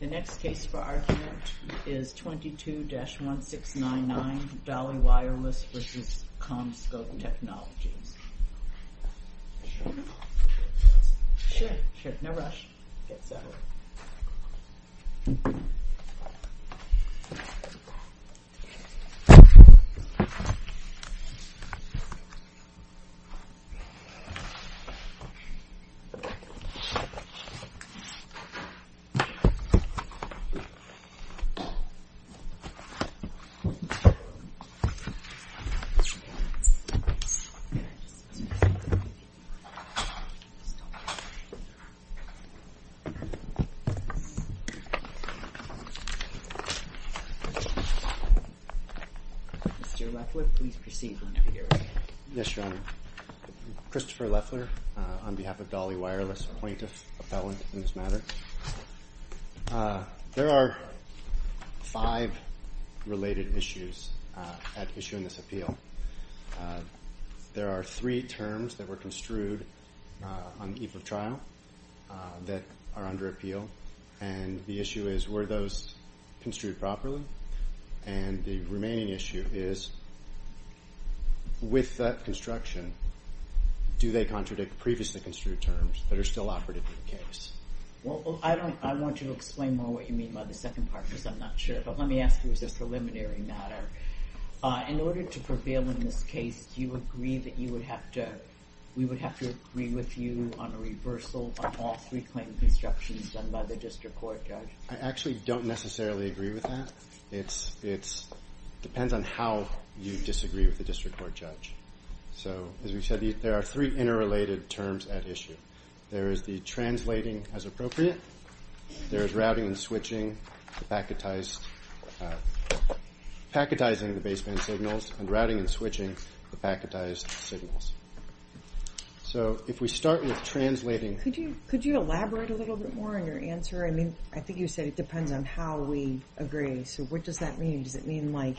The next case for argument is 22-1699 Dali Wireless v. CommScope Technologies. Mr. Leffler, please proceed to the next hearing. Yes, Your Honor. Christopher Leffler on behalf of Dali Wireless, appointive appellant in this matter. There are five related issues at issue in this appeal. There are three terms that were construed on the eve of trial that are under appeal, and the issue is were those construed properly? And the remaining issue is with that construction, do they contradict previously construed terms that are still operative in the case? Well, I want to explain more what you mean by the second part because I'm not sure, but let me ask you as a preliminary matter. In order to prevail in this case, do you agree that you would have to – we would have to agree with you on a reversal of all three claimed constructions done by the district court, Judge? I actually don't necessarily agree with that. It depends on how you disagree with the district court, Judge. So as we said, there are three interrelated terms at issue. There is the translating as appropriate. There is routing and switching the packetized – packetizing the baseband signals and routing and switching the packetized signals. So if we start with translating – Could you elaborate a little bit more on your answer? I mean, I think you said it depends on how we agree. So what does that mean? Does it mean, like,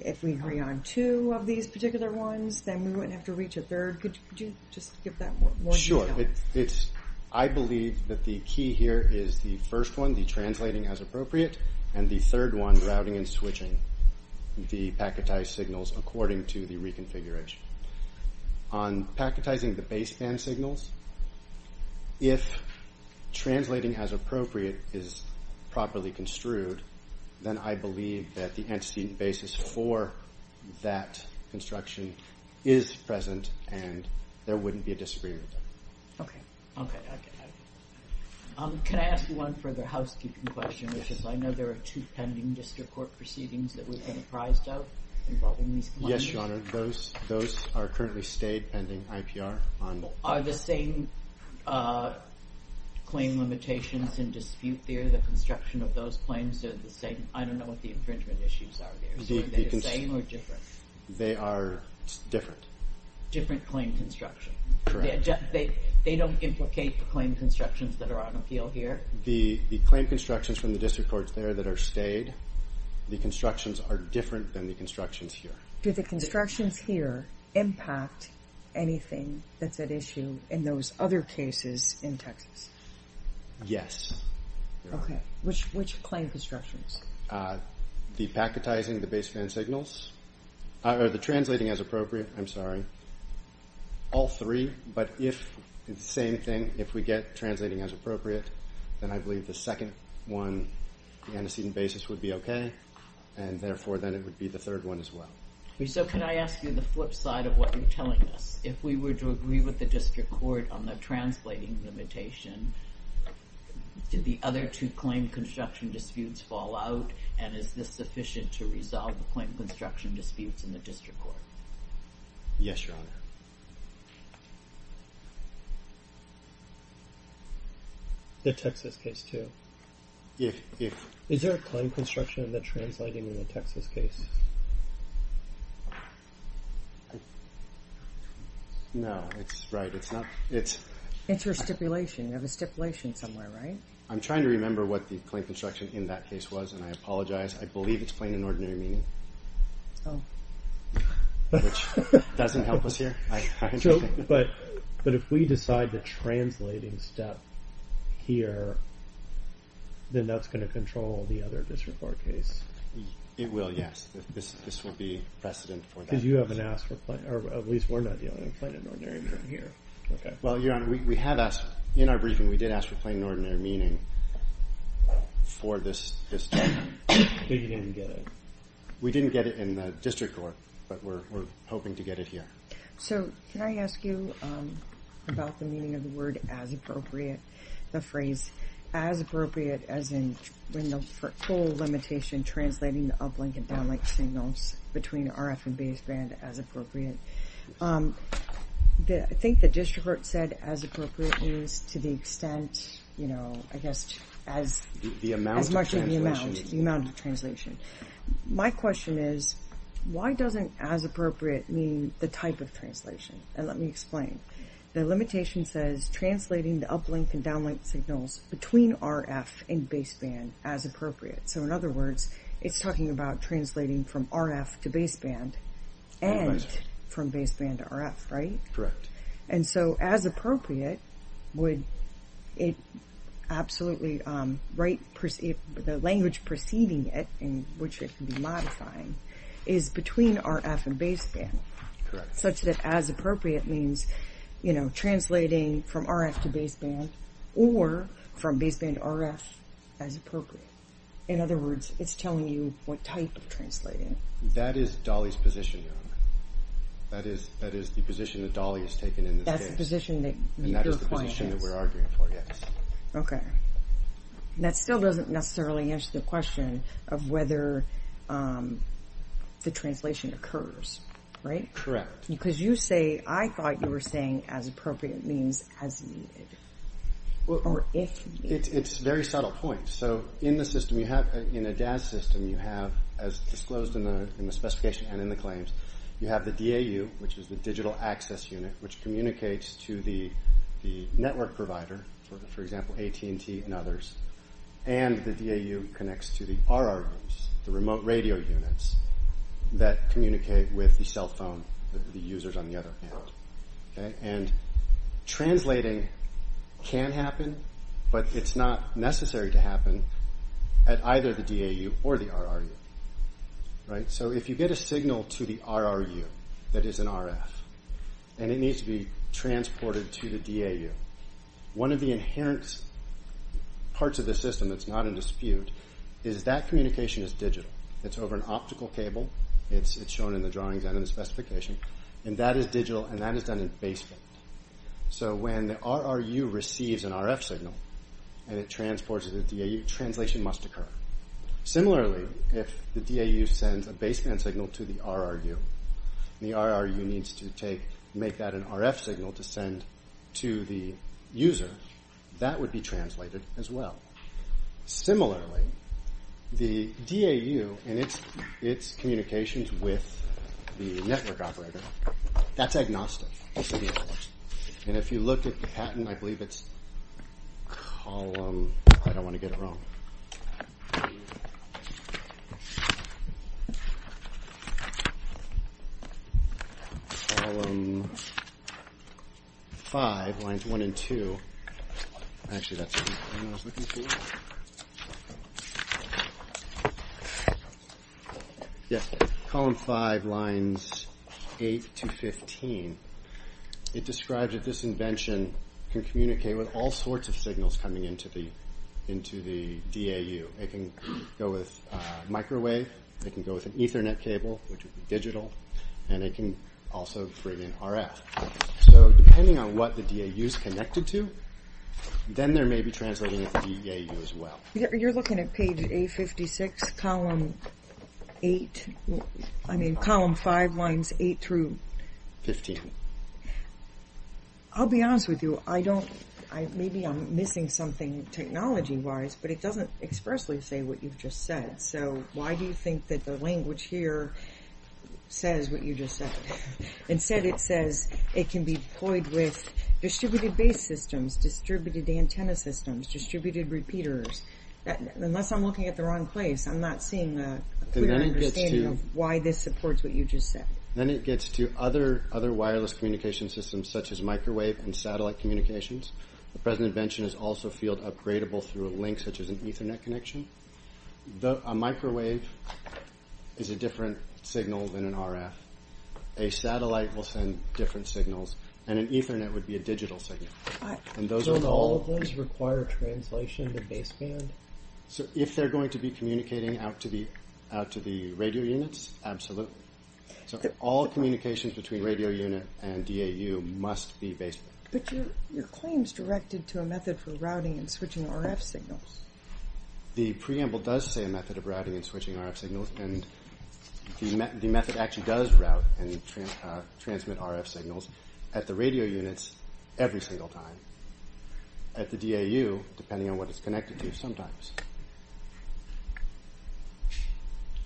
if we hurry on two of these particular ones, then we wouldn't have to reach a third? Could you just give that more detail? Sure. I believe that the key here is the first one, the translating as appropriate, and the third one, routing and switching the packetized signals according to the reconfiguration. On packetizing the baseband signals, if translating as appropriate is properly construed, then I believe that the antecedent basis for that construction is present and there wouldn't be a disagreement. Okay. Okay. Okay. Can I ask one further housekeeping question, which is I know there are two pending district court proceedings that we've been apprised of involving these companies. Yes, Your Honor. Those are currently stayed pending IPR. Are the same claim limitations in dispute there? The construction of those claims are the same? I don't know what the infringement issues are there. Are they the same or different? They are different. Different claim construction? Correct. They don't implicate the claim constructions that are on appeal here? The claim constructions from the district courts there that are stayed, the constructions are different than the constructions here. Do the constructions here impact anything that's at issue in those other cases in Texas? Yes. Okay. Which claim constructions? The packetizing the baseband signals, or the translating as appropriate. I'm sorry. All three, but if it's the same thing, if we get translating as appropriate, then I believe the second one, the antecedent basis would be okay, and therefore, then it would be the third one as well. Can I ask you the flip side of what you're telling us? If we were to agree with the district court on the translating limitation, did the other two claim construction disputes fall out, and is this sufficient to resolve the claim construction disputes in the district court? Yes, Your Honor. The Texas case too? Yes. Is there a claim construction that's translating in the Texas case? No, it's not. It's your stipulation. You have a stipulation somewhere, right? I'm trying to remember what the claim construction in that case was, and I apologize. I believe it's plain and ordinary meaning, which doesn't help us here. But if we decide the translating step here, then that's going to control the other district court case? It will, yes. This will be precedent for that. Because you haven't asked for plain, or at least we're not dealing in plain and ordinary meaning here. Well, Your Honor, we have asked. In our briefing, we did ask for plain and ordinary meaning for this term. But you didn't get it. We didn't get it in the district court, but we're hoping to get it here. So can I ask you about the meaning of the word as appropriate, the phrase as appropriate as in when the full limitation translating the uplink and downlink signals between RF and baseband as appropriate. I think the district court said as appropriate means to the extent, you know, I guess as much of the amount, the amount of translation. My question is why doesn't as appropriate mean the type of translation? And let me explain. The limitation says translating the uplink and downlink signals between RF and baseband as appropriate. So in other words, it's talking about translating from RF to baseband and from baseband to RF, right? Correct. And so as appropriate would it absolutely write the language preceding it in which it can be modifying is between RF and baseband. Correct. Such that as appropriate means, you know, translating from RF to baseband or from baseband to RF as appropriate. In other words, it's telling you what type of translating. That is Dolly's position, Your Honor. That is the position that Dolly has taken in this case. That's the position that your client is. And that is the position that we're arguing for, yes. Okay. And that still doesn't necessarily answer the question of whether the translation occurs, right? Correct. Because you say, I thought you were saying as appropriate means as needed. Or if needed. It's a very subtle point. So in the system you have, in a DAS system you have, as disclosed in the specification and in the claims, you have the DAU, which is the digital access unit, which communicates to the network provider, for example, AT&T and others. And the DAU connects to the RRUs, the remote radio units, that communicate with the cell phone, the users on the other end. And translating can happen, but it's not necessary to happen at either the DAU or the RRU, right? So if you get a signal to the RRU that is an RF and it needs to be transported to the DAU, one of the inherent parts of the system that's not in dispute is that communication is digital. It's over an optical cable. It's shown in the drawings and in the specification. And that is digital, and that is done in baseband. So when the RRU receives an RF signal and it transports it to the DAU, translation must occur. Similarly, if the DAU sends a baseband signal to the RRU and the RRU needs to make that an RF signal to send to the user, that would be translated as well. Similarly, the DAU and its communications with the network operator, that's agnostic. And if you look at the patent, I believe it's column... I don't want to get it wrong. Column 5, lines 1 and 2. Actually, that's the one I was looking for. Yes, column 5, lines 8 to 15. It describes that this invention can communicate with all sorts of signals coming into the DAU. It can go with microwave, it can go with an Ethernet cable, which would be digital, and it can also bring in RF. So depending on what the DAU is connected to, then there may be translating at the DAU as well. You're looking at page A56, column 8. I mean column 5, lines 8 through... 15. I'll be honest with you. Maybe I'm missing something technology-wise, but it doesn't expressly say what you've just said. So why do you think that the language here says what you just said? Instead it says it can be deployed with distributed base systems, distributed antenna systems, distributed repeaters. Unless I'm looking at the wrong place, I'm not seeing a clear understanding of why this supports what you just said. Then it gets to other wireless communication systems such as microwave and satellite communications. The present invention is also field-upgradable through a link such as an Ethernet connection. A microwave is a different signal than an RF. A satellite will send different signals, and an Ethernet would be a digital signal. So all of those require translation to baseband? If they're going to be communicating out to the radio units, absolutely. So all communications between radio unit and DAU must be baseband. But your claim is directed to a method for routing and switching RF signals. The preamble does say a method of routing and switching RF signals, and the method actually does route and transmit RF signals at the radio units every single time. At the DAU, depending on what it's connected to, sometimes.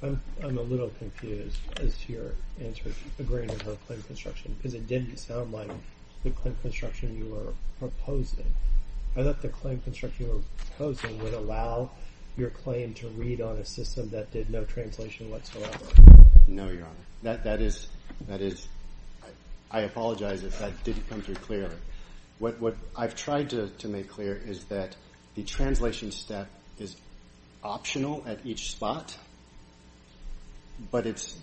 I'm a little confused as to your answer, agreeing with her claim construction, because it didn't sound like the claim construction you were proposing. I thought the claim construction you were proposing would allow your claim to read on a system that did no translation whatsoever. No, Your Honor. That is, I apologize if that didn't come through clearly. What I've tried to make clear is that the translation step is optional at each spot, but it's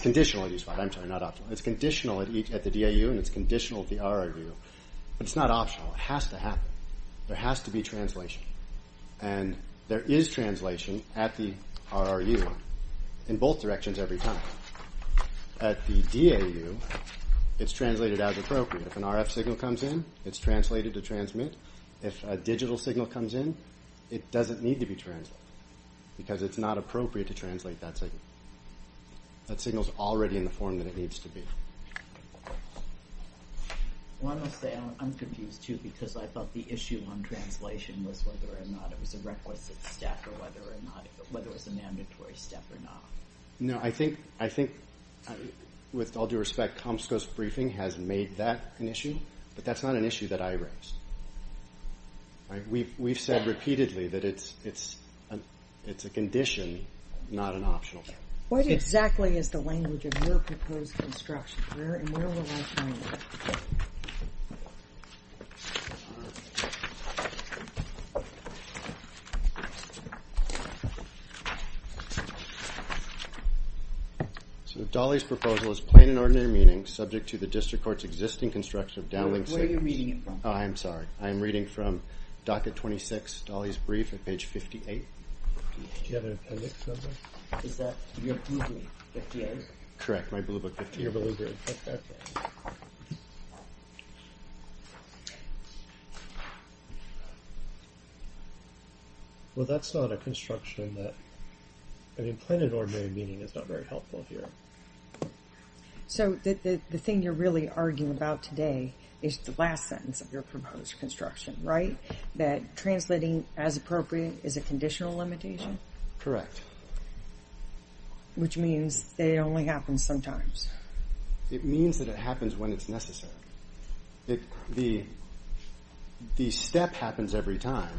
conditional at each spot. I'm sorry, not optional. It's conditional at the DAU, and it's conditional at the RRU. But it's not optional. It has to happen. There has to be translation. And there is translation at the RRU in both directions every time. At the DAU, it's translated as appropriate. If an RF signal comes in, it's translated to transmit. If a digital signal comes in, it doesn't need to be translated, because it's not appropriate to translate that signal. That signal is already in the form that it needs to be. I'm confused, too, because I thought the issue on translation was whether or not it was a requisite step, or whether it was a mandatory step or not. No, I think, with all due respect, COMSCO's briefing has made that an issue, but that's not an issue that I raised. We've said repeatedly that it's a condition, not an optional step. What exactly is the language of your proposed construction? Where will I find it? So Dolly's proposal is plain and ordinary meaning, subject to the district court's existing construction of downlink signals. Where are you reading it from? I'm sorry. I'm reading from docket 26, Dolly's brief, at page 58. Do you have an appendix number? Is that your blue book, 58? Correct, my blue book, 58. Well, that's not a construction that... I mean, plain and ordinary meaning is not very helpful here. So the thing you're really arguing about today is the last sentence of your proposed construction, right? That translating as appropriate is a conditional limitation? Correct. Which means that it only happens sometimes. It means that it happens when it's necessary. The step happens every time.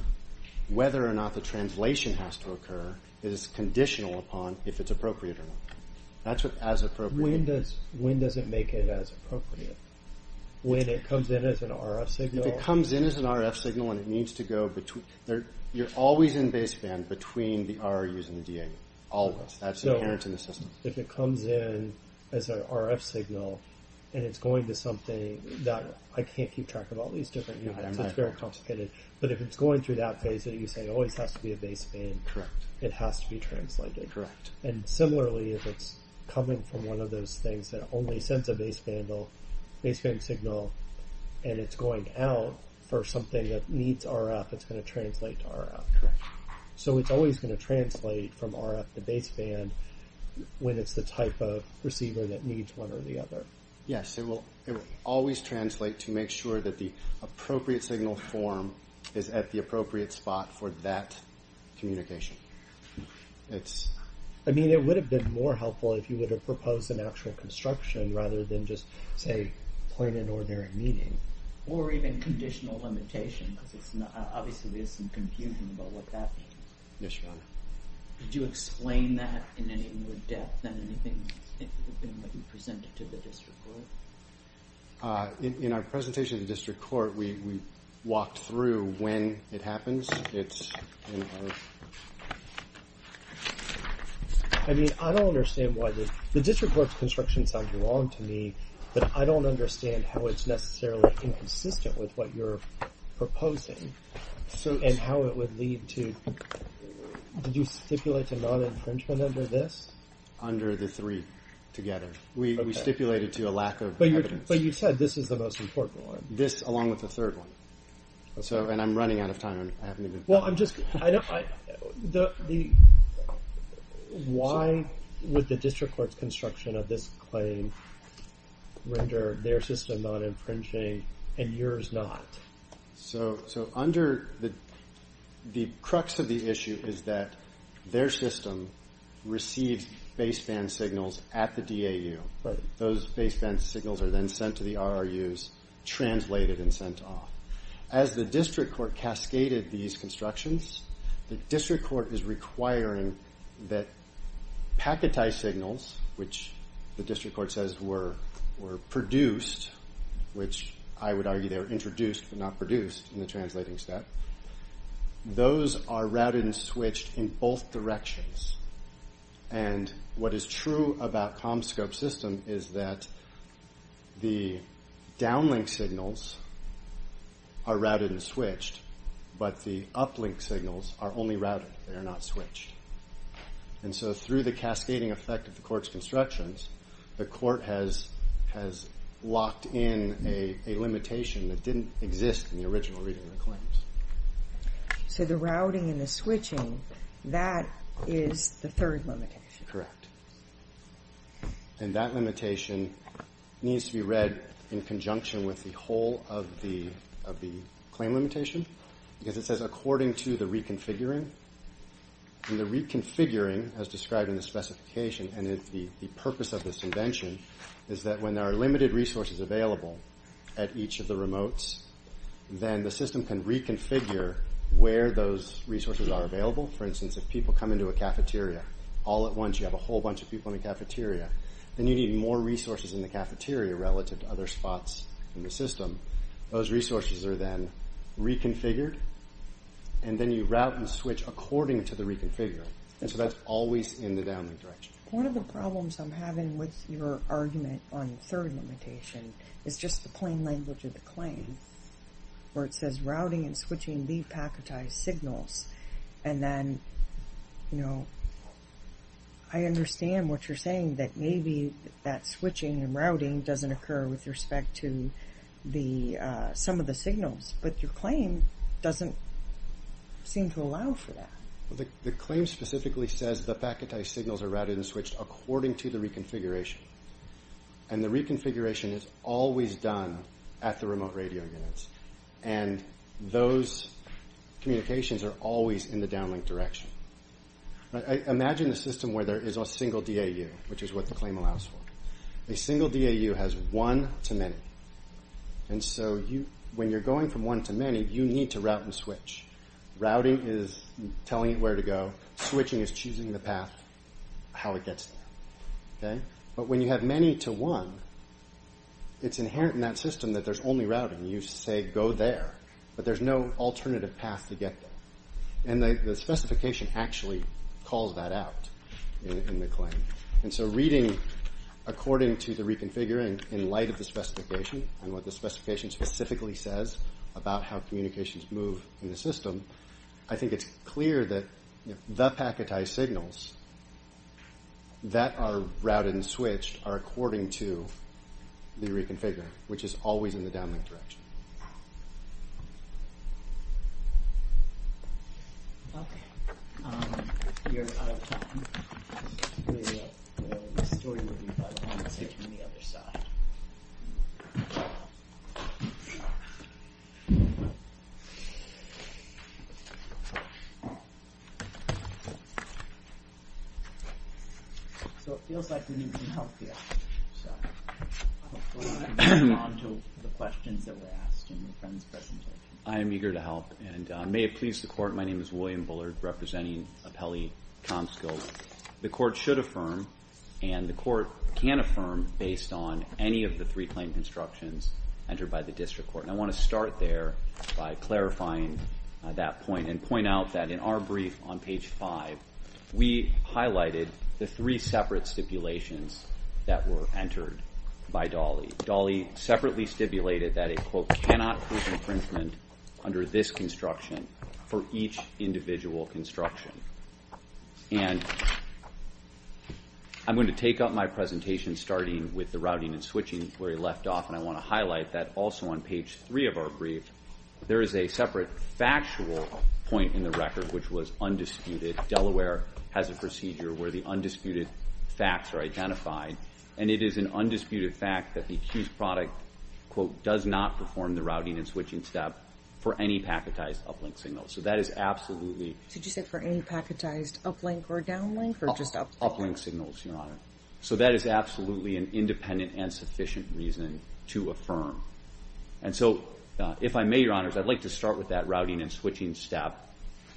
Whether or not the translation has to occur is conditional upon if it's appropriate or not. When does it make it as appropriate? When it comes in as an RF signal? If it comes in as an RF signal and it needs to go between... You're always in baseband between the RUs and the DAUs. Always. That's inherent in the system. So if it comes in as an RF signal and it's going to something that... I can't keep track of all these different units. It's very complicated. But if it's going through that phase that you say always has to be a baseband, it has to be translated. Correct. And similarly, if it's coming from one of those things that only sends a baseband signal and it's going out for something that needs RF, it's going to translate to RF. Correct. So it's always going to translate from RF to baseband when it's the type of receiver that needs one or the other. Yes, it will always translate to make sure that the appropriate signal form is at the appropriate spot for that communication. I mean, it would have been more helpful if you would have proposed an actual construction rather than just, say, point it where they're meeting. Or even conditional limitation, because obviously there's some confusion about what that means. Yes, Your Honor. Did you explain that in any more depth than anything in what you presented to the district court? In our presentation to the district court, we walked through when it happens. It's in our... I mean, I don't understand why this... The district court's construction sounds wrong to me, but I don't understand how it's necessarily inconsistent with what you're proposing and how it would lead to... Did you stipulate a non-infringement under this? Under the three together. We stipulated to a lack of evidence. But you said this is the most important one. This, along with the third one. And I'm running out of time. Well, I'm just... Why would the district court's construction of this claim render their system non-infringing and yours not? So under... The crux of the issue is that their system receives baseband signals at the DAU. Those baseband signals are then sent to the RRUs, translated and sent off. As the district court cascaded these constructions, the district court is requiring that packetized signals, which the district court says were produced, which I would argue they were introduced but not produced in the translating step, those are routed and switched in both directions. And what is true about ComScope's system is that the downlink signals are routed and switched, but the uplink signals are only routed. They are not switched. And so through the cascading effect of the court's constructions, the court has locked in a limitation that didn't exist in the original reading of the claims. So the routing and the switching, that is the third limitation. Correct. And that limitation needs to be read in conjunction with the whole of the claim limitation because it says according to the reconfiguring. And the reconfiguring, as described in the specification, and the purpose of this invention, is that when there are limited resources available at each of the remotes, then the system can reconfigure where those resources are available. For instance, if people come into a cafeteria all at once, then you need more resources in the cafeteria relative to other spots in the system. Those resources are then reconfigured, and then you route and switch according to the reconfiguring. And so that's always in the downlink direction. One of the problems I'm having with your argument on the third limitation is just the plain language of the claim, where it says routing and switching depacketized signals. And then, you know, I understand what you're saying, that maybe that switching and routing doesn't occur with respect to some of the signals, but your claim doesn't seem to allow for that. The claim specifically says the packetized signals are routed and switched according to the reconfiguration. And the reconfiguration is always done at the remote radio units, and those communications are always in the downlink direction. Imagine a system where there is a single DAU, which is what the claim allows for. A single DAU has one to many. And so when you're going from one to many, you need to route and switch. Routing is telling it where to go. Switching is choosing the path, how it gets there. But when you have many to one, it's inherent in that system that there's only routing. You say go there, but there's no alternative path to get there. And the specification actually calls that out in the claim. And so reading according to the reconfiguring in light of the specification and what the specification specifically says about how communications move in the system, I think it's clear that the packetized signals that are routed and switched are according to the reconfiguration, which is always in the downlink direction. Okay. We're out of time. The story will be published on the other side. So it feels like we need some help here. So hopefully we can move on to the questions that were asked. I am eager to help. And may it please the Court, my name is William Bullard, representing Appelli-Tomskill. The Court should affirm, and the Court can affirm based on any of the three claim constructions entered by the District Court. And I want to start there by clarifying that point and point out that in our brief on page 5, we highlighted the three separate stipulations that were entered by Dolly. Dolly separately stipulated that it, quote, cannot cause infringement under this construction for each individual construction. And I'm going to take up my presentation starting with the routing and switching where he left off, and I want to highlight that also on page 3 of our brief, there is a separate factual point in the record which was undisputed. Delaware has a procedure where the undisputed facts are identified, and it is an undisputed fact that the accused product, quote, does not perform the routing and switching step for any packetized uplink signal. So that is absolutely... Did you say for any packetized uplink or downlink, or just uplink? Uplink signals, Your Honor. So that is absolutely an independent and sufficient reason to affirm. And so, if I may, Your Honors, I'd like to start with that routing and switching step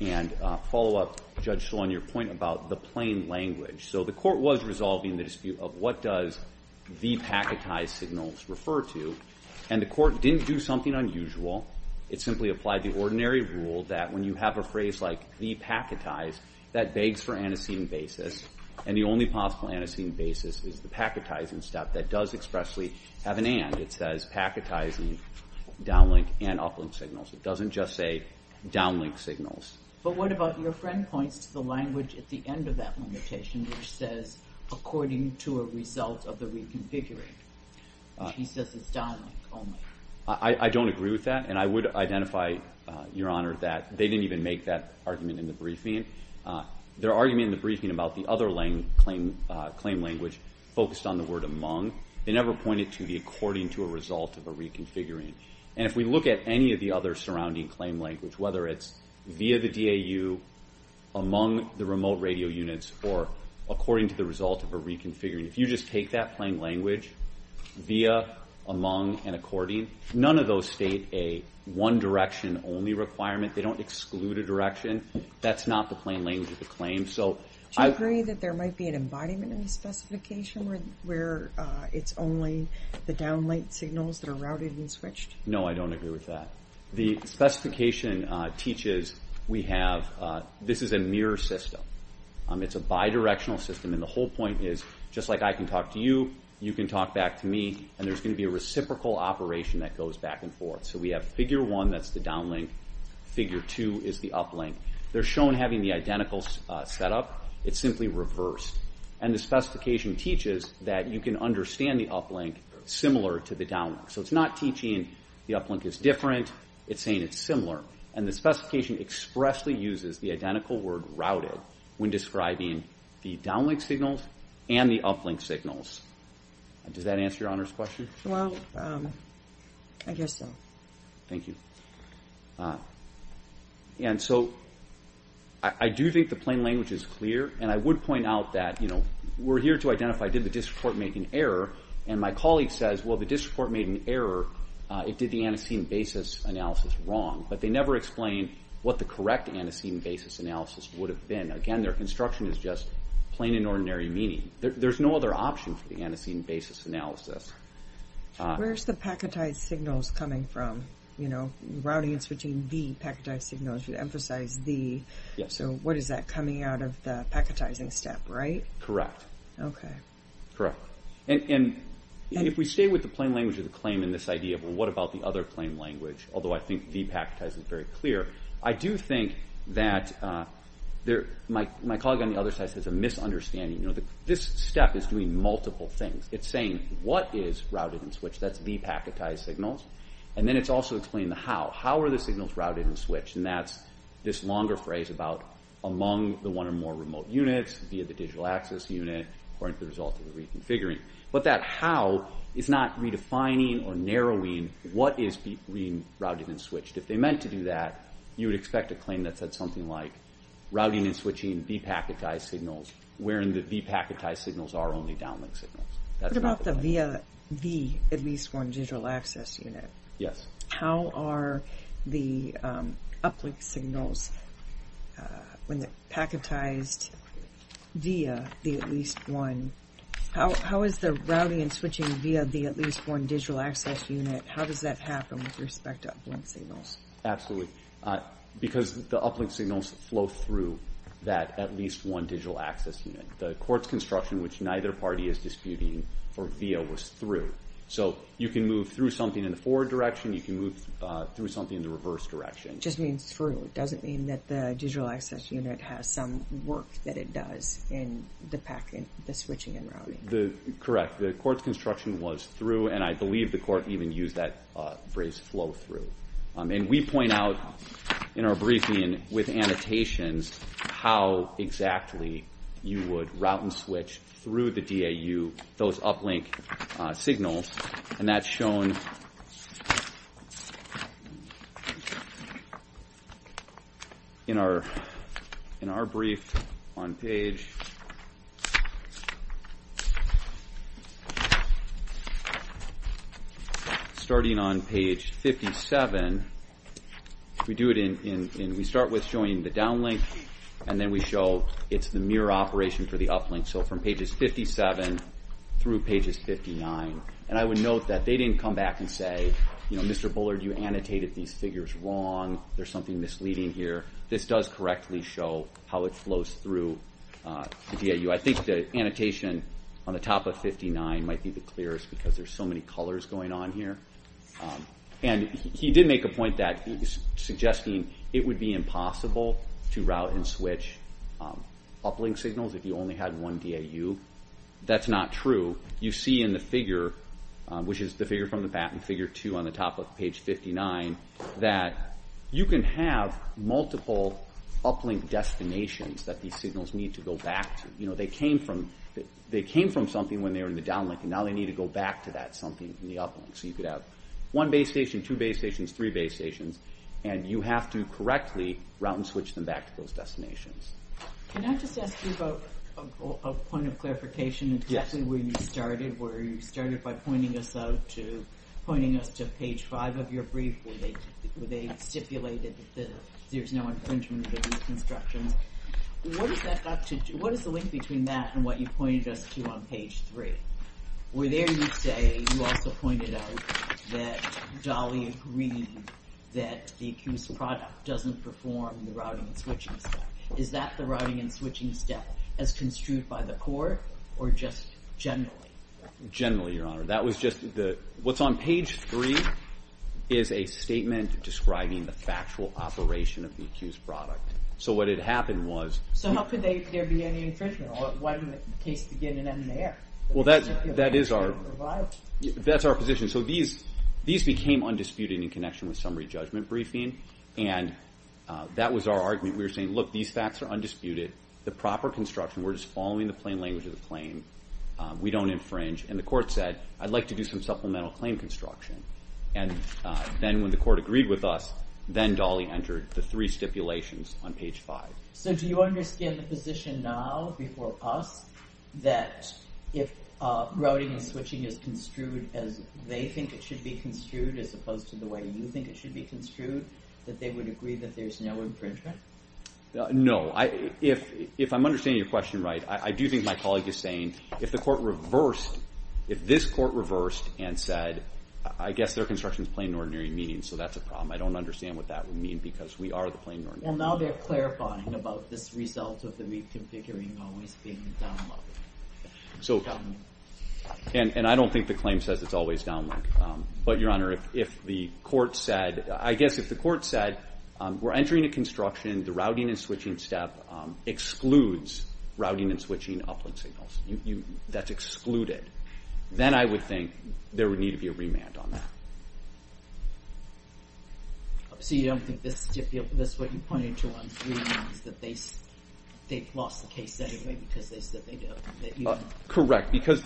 and follow up, Judge Schill, on your point about the plain language. So the Court was resolving the dispute of what does the packetized signals refer to, and the Court didn't do something unusual. It simply applied the ordinary rule that when you have a phrase like the packetized, that begs for antecedent basis, and the only possible antecedent basis is the packetizing step that does expressly have an and. It says packetizing downlink and uplink signals. It doesn't just say downlink signals. But what about... Your friend points to the language at the end of that limitation which says according to a result of the reconfiguring, which he says is downlink only. I don't agree with that, and I would identify, Your Honor, that they didn't even make that argument in the briefing. Their argument in the briefing about the other claim language focused on the word among. They never pointed to the according to a result of a reconfiguring. And if we look at any of the other surrounding claim language, whether it's via the DAU, among the remote radio units, or according to the result of a reconfiguring, if you just take that plain language, via, among, and according, none of those state a one-direction only requirement. They don't exclude a direction. That's not the plain language of the claim. Do you agree that there might be an embodiment of the specification where it's only the downlink signals that are routed and switched? No, I don't agree with that. The specification teaches we have... This is a mirror system. It's a bidirectional system, and the whole point is, just like I can talk to you, you can talk back to me, and there's going to be a reciprocal operation that goes back and forth. So we have figure 1, that's the downlink. Figure 2 is the uplink. They're shown having the identical setup. It's simply reversed. And the specification teaches that you can understand the uplink similar to the downlink. So it's not teaching the uplink is different. It's saying it's similar. And the specification expressly uses the identical word routed when describing the downlink signals and the uplink signals. Does that answer Your Honor's question? Well, I guess so. Thank you. And so I do think the plain language is clear, and I would point out that we're here to identify, did the district court make an error? And my colleague says, well, the district court made an error. It did the antecedent basis analysis wrong. But they never explained what the correct antecedent basis analysis would have been. Again, their construction is just plain and ordinary meaning. There's no other option for the antecedent basis analysis. Where's the packetized signals coming from? Routing and switching the packetized signals, you emphasize the. So what is that coming out of the packetizing step, right? Correct. Okay. Correct. And if we stay with the plain language of the claim in this idea, well, what about the other plain language? Although I think the packetized is very clear. I do think that my colleague on the other side has a misunderstanding. This step is doing multiple things. It's saying what is routed and switched. That's the packetized signals. And then it's also explaining the how. How are the signals routed and switched? And that's this longer phrase about among the one or more remote units, via the digital access unit, or as a result of the reconfiguring. But that how is not redefining or narrowing what is routed and switched. If they meant to do that, you would expect a claim that said something like routing and switching the packetized signals, wherein the packetized signals are only downlink signals. What about the via the at least one digital access unit? Yes. How are the uplink signals when they're packetized via the at least one? How is the routing and switching via the at least one digital access unit, how does that happen with respect to uplink signals? Absolutely. Because the uplink signals flow through that at least one digital access unit. The courts construction, which neither party is disputing for via, was through. So you can move through something in the forward direction. You can move through something in the reverse direction. It just means through. It doesn't mean that the digital access unit has some work that it does in the switching and routing. Correct. The court's construction was through, and I believe the court even used that phrase flow through. And we point out in our briefing with annotations how exactly you would route and switch through the DAU those uplink signals, and that's shown in our brief on page starting on page 57. We do it in we start with showing the downlink, and then we show it's the mirror operation for the uplink, so from pages 57 through pages 59. And I would note that they didn't come back and say, Mr. Bullard, you annotated these figures wrong. There's something misleading here. This does correctly show how it flows through the DAU. I think the annotation on the top of 59 might be the clearest because there's so many colors going on here. And he did make a point that he was suggesting it would be impossible to route and switch uplink signals if you only had one DAU. That's not true. You see in the figure, which is the figure from the patent, figure two on the top of page 59, that you can have multiple uplink destinations that these signals need to go back to. They came from something when they were in the downlink, and now they need to go back to that something in the uplink. So you could have one base station, two base stations, three base stations, and you have to correctly route and switch them back to those destinations. Can I just ask you about a point of clarification exactly where you started? Where you started by pointing us to page 5 of your brief where they stipulated that there's no infringement of these instructions. What is the link between that and what you pointed us to on page 3? Where there you say you also pointed out that Dolly agreed that the accused product doesn't perform the routing and switching step. Is that the routing and switching step as construed by the court or just generally? Generally, Your Honor. What's on page 3 is a statement describing the factual operation of the accused product. So what had happened was— So how could there be any infringement? Why didn't the case begin and end there? That's our position. So these became undisputed in connection with summary judgment briefing, and that was our argument. We were saying, look, these facts are undisputed. The proper construction, we're just following the plain language of the claim. We don't infringe. And the court said, I'd like to do some supplemental claim construction. And then when the court agreed with us, then Dolly entered the three stipulations on page 5. So do you understand the position now before us that if routing and switching is construed as they think it should be construed as opposed to the way you think it should be construed, that they would agree that there's no infringement? No. If I'm understanding your question right, I do think my colleague is saying if the court reversed, if this court reversed and said, I guess their construction is plain and ordinary in meaning, so that's a problem. I don't understand what that would mean because we are the plain and ordinary. Well, now they're clarifying about this result of the reconfiguring always being downlinked. And I don't think the claim says it's always downlinked. But, Your Honor, if the court said, I guess if the court said we're entering a construction, the routing and switching step excludes routing and switching uplink signals. That's excluded. Then I would think there would need to be a remand on that. So you don't think that's what you're pointing to on remand is that they've lost the case anyway because they said they don't? Correct. I just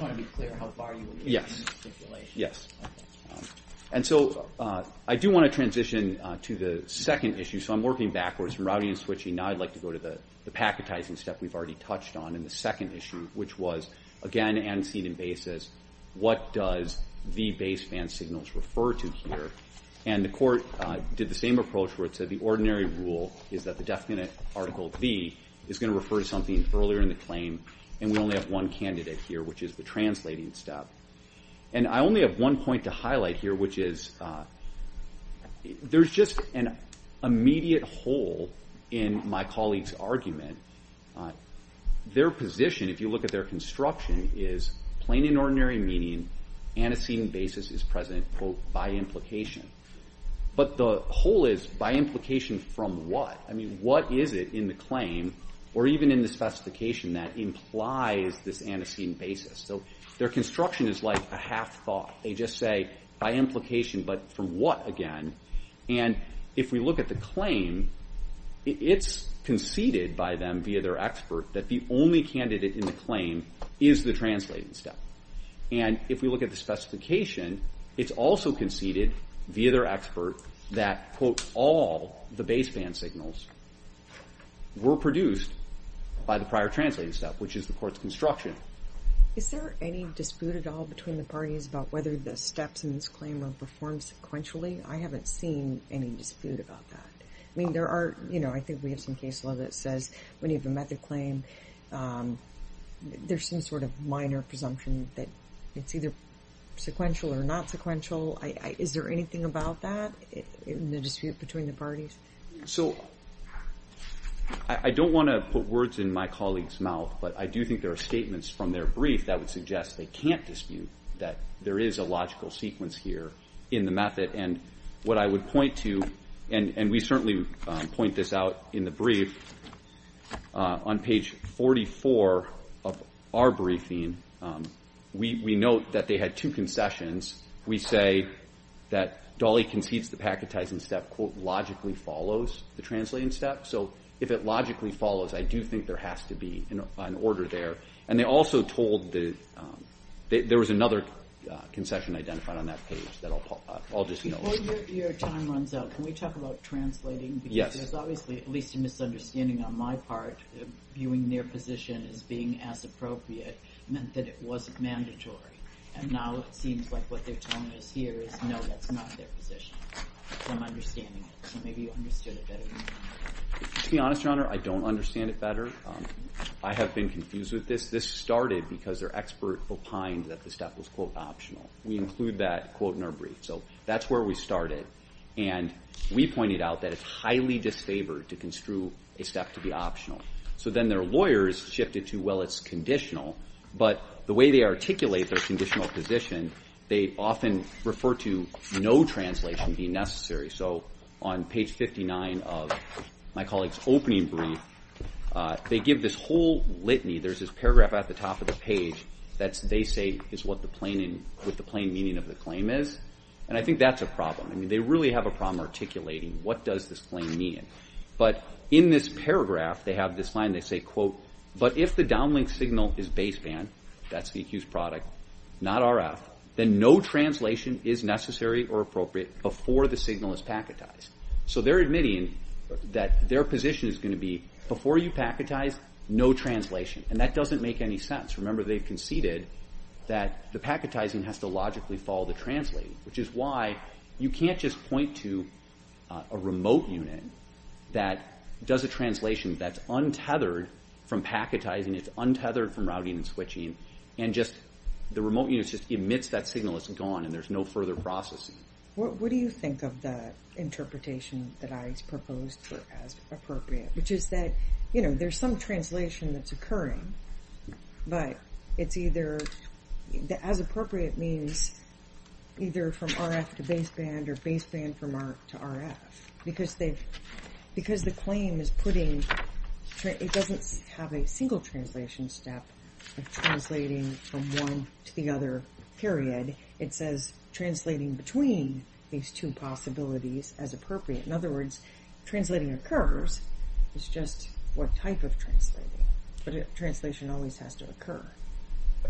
want to be clear how far you agree with the stipulation. Yes. And so I do want to transition to the second issue. So I'm working backwards from routing and switching. Now I'd like to go to the packetizing step we've already touched on in the second issue, which was, again, on an antecedent basis, what does the baseband signals refer to here? And the court did the same approach where it said the ordinary rule is that the definite Article V is going to refer to something earlier in the claim, and we only have one candidate here, which is the translating step. And I only have one point to highlight here, which is there's just an immediate hole in my colleague's argument. Their position, if you look at their construction, is plain and ordinary meaning antecedent basis is present, quote, by implication. But the hole is by implication from what? I mean, what is it in the claim or even in the specification that implies this antecedent basis? So their construction is like a half thought. They just say by implication, but from what again? And if we look at the claim, it's conceded by them via their expert that the only candidate in the claim is the translating step. And if we look at the specification, it's also conceded via their expert that, quote, all the baseband signals were produced by the prior translating step, which is the court's construction. Is there any dispute at all between the parties about whether the steps in this claim were performed sequentially? I haven't seen any dispute about that. I mean, there are, you know, I think we have some case law that says when you have a method claim, there's some sort of minor presumption that it's either sequential or not sequential. Is there anything about that in the dispute between the parties? So I don't want to put words in my colleague's mouth, but I do think there are statements from their brief that would suggest they can't dispute that there is a logical sequence here in the method, and what I would point to, and we certainly point this out in the brief, on page 44 of our briefing, we note that they had two concessions. We say that Dolly concedes the packetizing step, quote, logically follows the translating step. So if it logically follows, I do think there has to be an order there. And they also told that there was another concession identified on that page that I'll just note. Before your time runs out, can we talk about translating? Yes. Because there's obviously at least a misunderstanding on my part. Viewing their position as being as appropriate meant that it wasn't mandatory. And now it seems like what they're telling us here is, no, that's not their position. I'm understanding it. So maybe you understood it better than I did. To be honest, Your Honor, I don't understand it better. I have been confused with this. This started because their expert opined that the step was, quote, optional. We include that, quote, in our brief. So that's where we started. And we pointed out that it's highly disfavored to construe a step to be optional. So then their lawyers shifted to, well, it's conditional. But the way they articulate their conditional position, they often refer to no translation being necessary. So on page 59 of my colleague's opening brief, they give this whole litany. There's this paragraph at the top of the page that they say is what the plaintiff with the plain meaning of the claim is. And I think that's a problem. I mean, they really have a problem articulating what does this claim mean. But in this paragraph, they have this line, they say, quote, but if the downlink signal is baseband, that's the accused product, not RF, then no translation is necessary or appropriate before the signal is packetized. So they're admitting that their position is going to be, before you packetize, no translation. And that doesn't make any sense. Remember, they conceded that the packetizing has to logically follow the translating, which is why you can't just point to a remote unit that does a translation that's untethered from packetizing, it's untethered from routing and switching, and just the remote unit just emits that signal. It's gone, and there's no further processing. What do you think of the interpretation that I proposed as appropriate, which is that there's some translation that's occurring, but it's either, as appropriate means either from RF to baseband or baseband from RF to RF. Because the claim is putting, it doesn't have a single translation step of translating from one to the other, period. It says translating between these two possibilities as appropriate. In other words, translating occurs, it's just what type of translating. But translation always has to occur.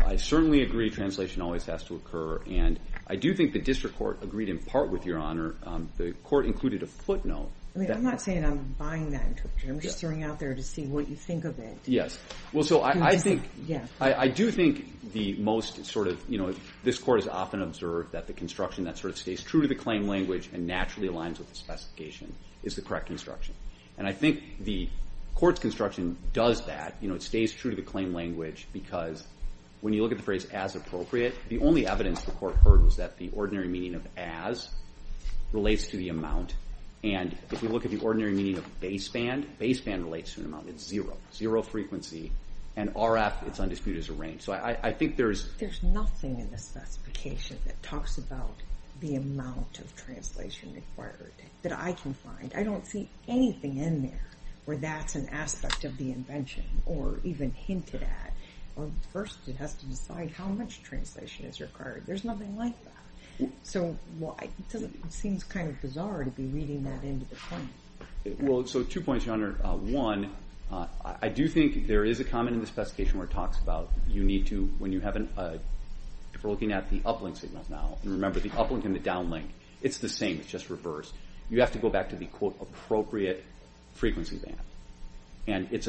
I certainly agree translation always has to occur, and I do think the district court agreed in part with Your Honor. The court included a footnote. I'm not saying I'm buying that interpretation. I'm just throwing it out there to see what you think of it. Yes. I do think the most sort of, you know, this court has often observed that the construction that sort of stays true to the claim language and naturally aligns with the specification is the correct construction. And I think the court's construction does that. You know, it stays true to the claim language because when you look at the phrase as appropriate, the only evidence the court heard was that the ordinary meaning of as relates to the amount. And if you look at the ordinary meaning of baseband, baseband relates to an amount of zero, zero frequency, and RF, it's undisputed as a range. So I think there's... There's nothing in the specification that talks about the amount of translation required that I can find. I don't see anything in there where that's an aspect of the invention or even hinted at. First, it has to decide how much translation is required. There's nothing like that. So it seems kind of bizarre to be reading that into the claim. Well, so two points, Your Honor. One, I do think there is a comment in the specification where it talks about you need to, when you have an... If we're looking at the uplink signals now, and remember the uplink and the downlink, it's the same. It's just reversed. You have to go back to the, quote, appropriate frequency band. And it's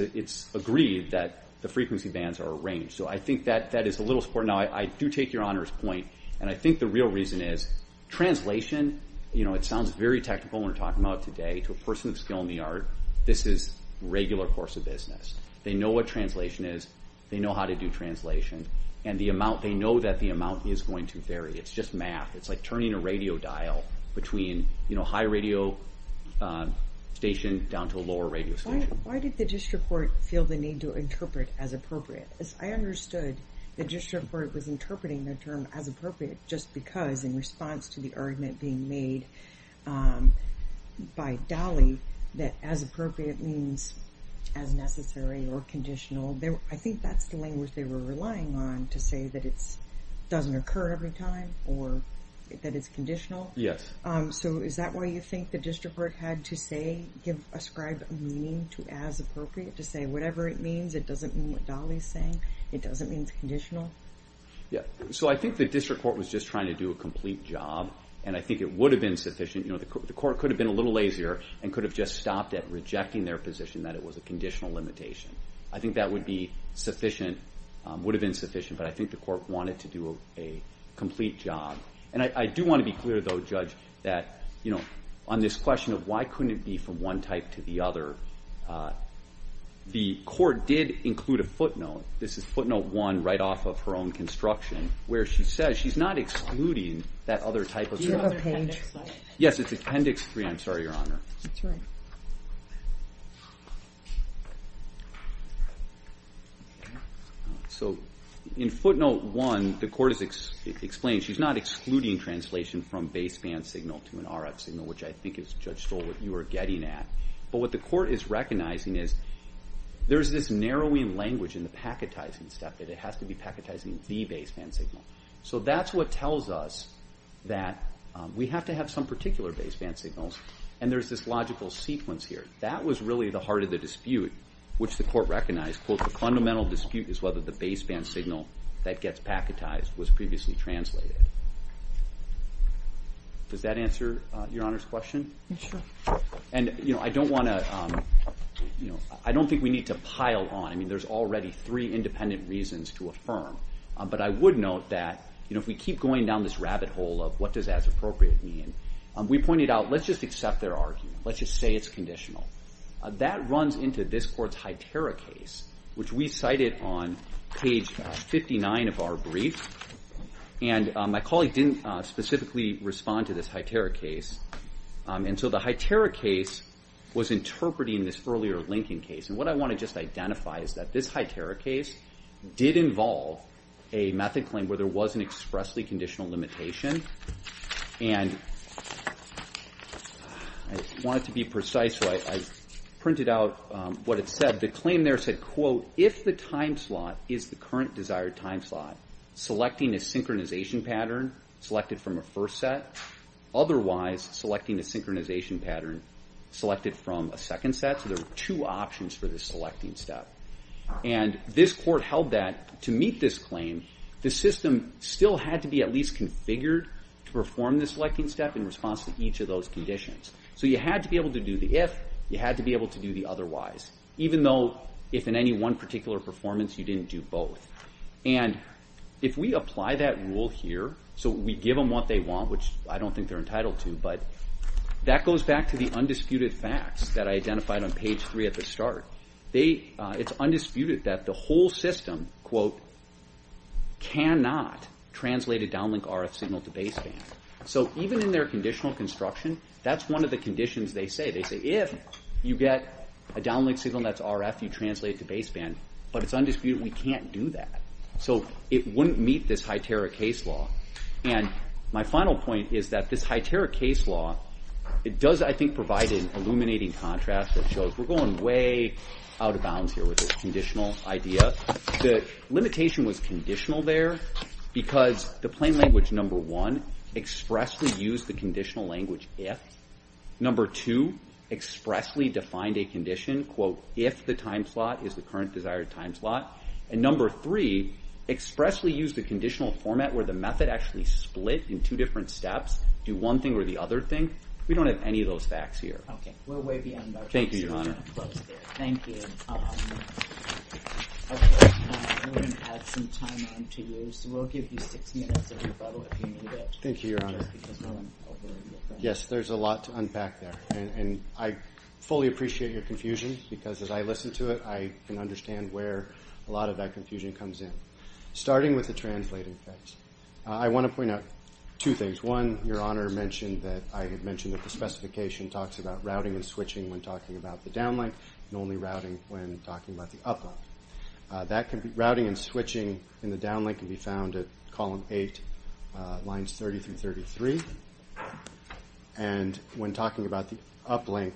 agreed that the frequency bands are arranged. So I think that is a little support. Now, I do take Your Honor's point, and I think the real reason is translation, you know, it sounds very technical when we're talking about it today. To a person with skill in the art, this is regular course of business. They know what translation is. They know how to do translation. And they know that the amount is going to vary. It's just math. It's like turning a radio dial between a high radio station down to a lower radio station. Why did the district court feel the need to interpret as appropriate? I understood the district court was interpreting the term as appropriate just because in response to the argument being made by Dolly that as appropriate means as necessary or conditional. I think that's the language they were relying on to say that it doesn't occur every time or that it's conditional. Yes. So is that why you think the district court had to say, ascribe a meaning to as appropriate to say whatever it means? It doesn't mean what Dolly is saying? It doesn't mean it's conditional? Yeah. So I think the district court was just trying to do a complete job, and I think it would have been sufficient. You know, the court could have been a little lazier and could have just stopped at rejecting their position that it was a conditional limitation. I think that would be sufficient, would have been sufficient, but I think the court wanted to do a complete job. And I do want to be clear, though, Judge, that on this question of why couldn't it be from one type to the other, the court did include a footnote. This is footnote 1 right off of her own construction where she says she's not excluding that other type of term. Do you have appendix 3? Yes, it's appendix 3. I'm sorry, Your Honor. That's all right. So in footnote 1, the court has explained she's not excluding translation from baseband signal to an RF signal, which I think is, Judge Stoll, what you are getting at. But what the court is recognizing is there's this narrowing language in the packetizing step that it has to be packetizing the baseband signal. So that's what tells us that we have to have some particular baseband signals, and there's this logical sequence here. That was really the heart of the dispute, which the court recognized, quote, the fundamental dispute is whether the baseband signal that gets packetized was previously translated. Does that answer Your Honor's question? Sure. And I don't think we need to pile on. I mean, there's already three independent reasons to affirm. But I would note that if we keep going down this rabbit hole of what does as appropriate mean, we pointed out let's just accept their argument. Let's just say it's conditional. That runs into this court's HITERA case, which we cited on page 59 of our brief. And my colleague didn't specifically respond to this HITERA case. And so the HITERA case was interpreting this earlier Lincoln case. And what I want to just identify is that this HITERA case did involve a method claim where there was an expressly conditional limitation. And I want it to be precise, so I printed out what it said. The claim there said, quote, if the time slot is the current desired time slot, selecting a synchronization pattern selected from a first set, otherwise selecting a synchronization pattern selected from a second set. So there were two options for this selecting step. And this court held that to meet this claim, the system still had to be at least configured to perform this selecting step in response to each of those conditions. So you had to be able to do the if. You had to be able to do the otherwise, even though if in any one particular performance you didn't do both. And if we apply that rule here, so we give them what they want, which I don't think they're entitled to, but that goes back to the undisputed facts that I identified on page 3 at the start. It's undisputed that the whole system, quote, cannot translate a downlink RF signal to baseband. So even in their conditional construction, that's one of the conditions they say. They say if you get a downlink signal that's RF, you translate it to baseband. But it's undisputed we can't do that. So it wouldn't meet this HITERA case law. And my final point is that this HITERA case law, it does, I think, provide an illuminating contrast that shows we're going way out of bounds here with this conditional idea. The limitation was conditional there because the plain language, number one, expressly used the conditional language if. Number two, expressly defined a condition, quote, if the time slot is the current desired time slot. And number three, expressly used the conditional format where the method actually split in two different steps, do one thing or the other thing. We don't have any of those facts here. Okay, we're way beyond our time. Thank you, Your Honor. Thank you. Okay, we're going to add some time on to you. So we'll give you six minutes of rebuttal if you need it. Thank you, Your Honor. Yes, there's a lot to unpack there. And I fully appreciate your confusion because as I listen to it, I can understand where a lot of that confusion comes in. Starting with the translating facts, I want to point out two things. One, Your Honor mentioned that I had mentioned that the specification talks about routing and switching when talking about the downlink and only routing when talking about the uplink. Routing and switching in the downlink can be found at column 8, lines 30 through 33. And when talking about the uplink,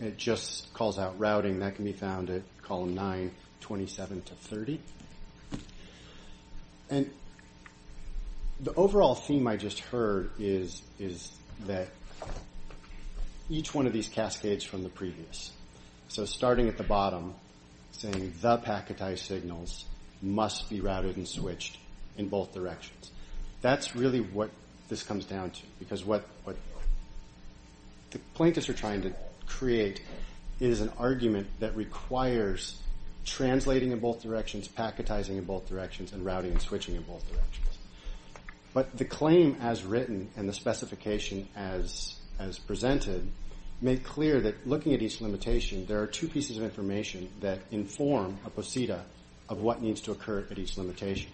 it just calls out routing. That can be found at column 9, 27 to 30. And the overall theme I just heard is that each one of these cascades from the previous. So starting at the bottom, saying the packetized signals must be routed and switched in both directions. That's really what this comes down to because what the plaintiffs are trying to create is an argument that requires translating in both directions, packetizing in both directions, and routing and switching in both directions. But the claim as written and the specification as presented made clear that looking at each limitation, there are two pieces of information that inform a posita of what needs to occur at each limitation.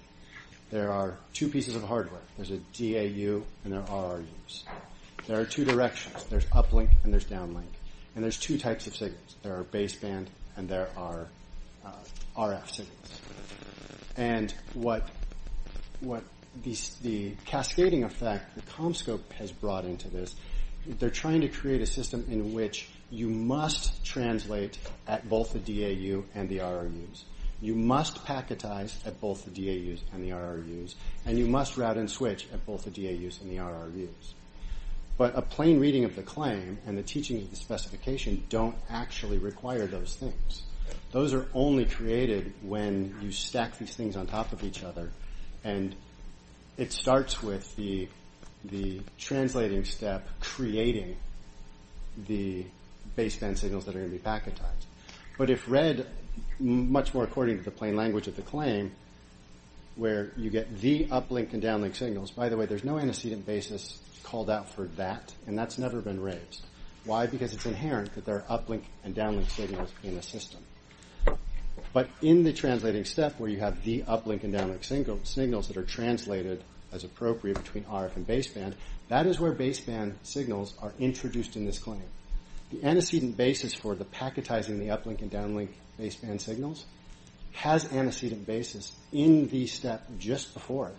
There are two pieces of hardware. There's a DAU and there are RUs. There are two directions. There's uplink and there's downlink. And there's two types of signals. There are baseband and there are RF signals. And what the cascading effect, the Comscope has brought into this, they're trying to create a system in which you must translate at both the DAU and the RUs. You must packetize at both the DAUs and the RUs. And you must route and switch at both the DAUs and the RUs. But a plain reading of the claim and the teaching of the specification don't actually require those things. Those are only created when you stack these things on top of each other. And it starts with the translating step creating the baseband signals that are going to be packetized. But if read much more according to the plain language of the claim, where you get the uplink and downlink signals, by the way, there's no antecedent basis called out for that, and that's never been raised. Why? Because it's inherent that there are uplink and downlink signals in a system. But in the translating step where you have the uplink and downlink signals that are translated as appropriate between RF and baseband, that is where baseband signals are introduced in this claim. The antecedent basis for the packetizing of the uplink and downlink baseband signals has antecedent basis in the step just before it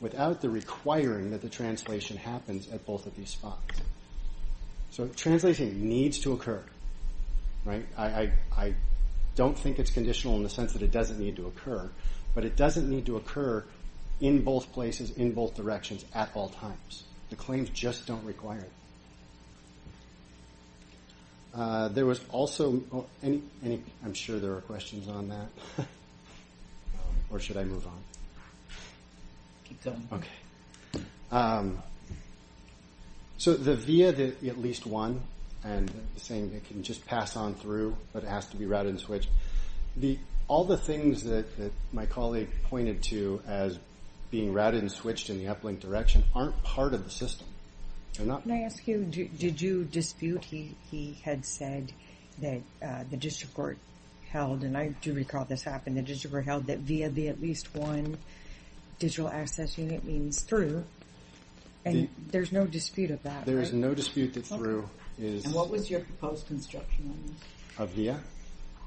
without the requiring that the translation happens at both of these spots. So translating needs to occur. I don't think it's conditional in the sense that it doesn't need to occur, but it doesn't need to occur in both places, in both directions, at all times. The claims just don't require that. There was also... I'm sure there are questions on that. Or should I move on? Okay. So the via the at least one, and saying they can just pass on through, but it has to be routed and switched. All the things that my colleague pointed to as being routed and switched in the uplink direction aren't part of the system. Can I ask you, did you dispute? He had said that the district court held, and I do recall this happening, the district court held that via the at least one digital access unit means through. And there's no dispute of that, right? There is no dispute that through is... And what was your proposed construction on this? Of via?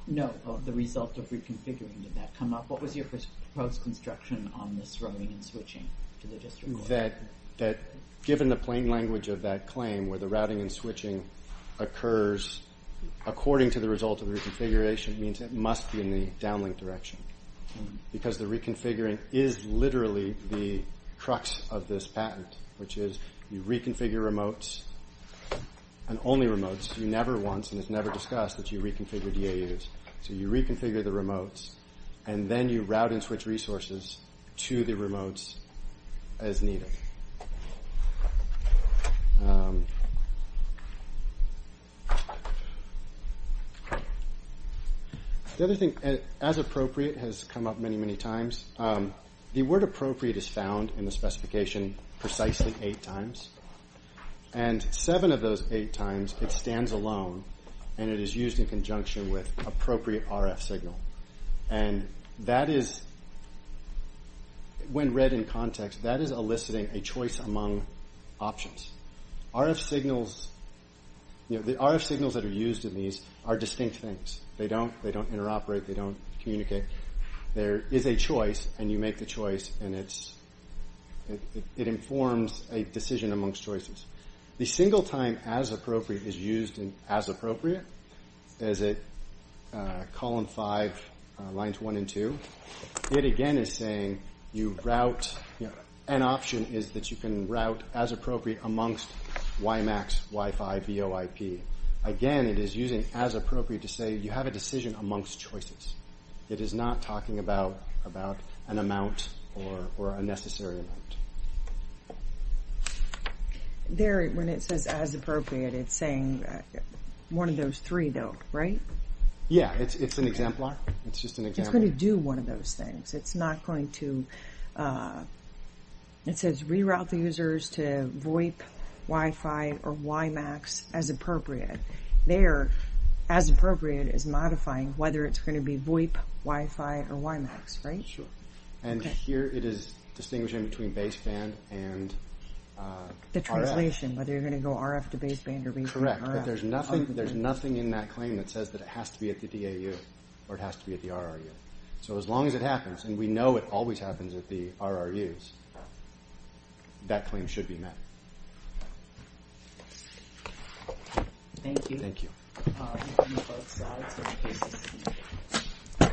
No, of the result of reconfiguring. Did that come up? What was your proposed construction on this routing and switching to the district court? That given the plain language of that claim where the routing and switching occurs according to the result of the reconfiguration means it must be in the downlink direction. Because the reconfiguring is literally the crux of this patent, which is you reconfigure remotes, and only remotes, you never once, and it's never discussed that you reconfigure DAUs. So you reconfigure the remotes, and then you route and switch resources to the remotes as needed. Um... The other thing, as appropriate, has come up many, many times. The word appropriate is found in the specification precisely eight times. And seven of those eight times, it stands alone, and it is used in conjunction with appropriate RF signal. And that is... When read in context, that is eliciting a choice among options. RF signals... You know, the RF signals that are used in these are distinct things. They don't interoperate, they don't communicate. There is a choice, and you make the choice, and it's... It informs a decision amongst choices. The single time as appropriate is used in as appropriate, as in column five, lines one and two. It again is saying you route... An option is that you can route as appropriate amongst WiMAX, Wi-Fi, VOIP. Again, it is using as appropriate to say you have a decision amongst choices. It is not talking about an amount or a necessary amount. There, when it says as appropriate, it's saying one of those three, though, right? Yeah, it's an exemplar. It's just an exemplar. It's going to do one of those things. It's not going to... It says reroute the users to VOIP, Wi-Fi, or WiMAX as appropriate. There, as appropriate is modifying whether it's going to be VOIP, Wi-Fi, or WiMAX, right? Sure. And here it is distinguishing between baseband and RF. The translation, whether you're going to go RF to baseband or baseband to RF. Correct, but there's nothing in that claim that says that it has to be at the DAU or it has to be at the RRU. So as long as it happens, and we know it always happens at the RRUs, that claim should be met. Thank you. Thank you.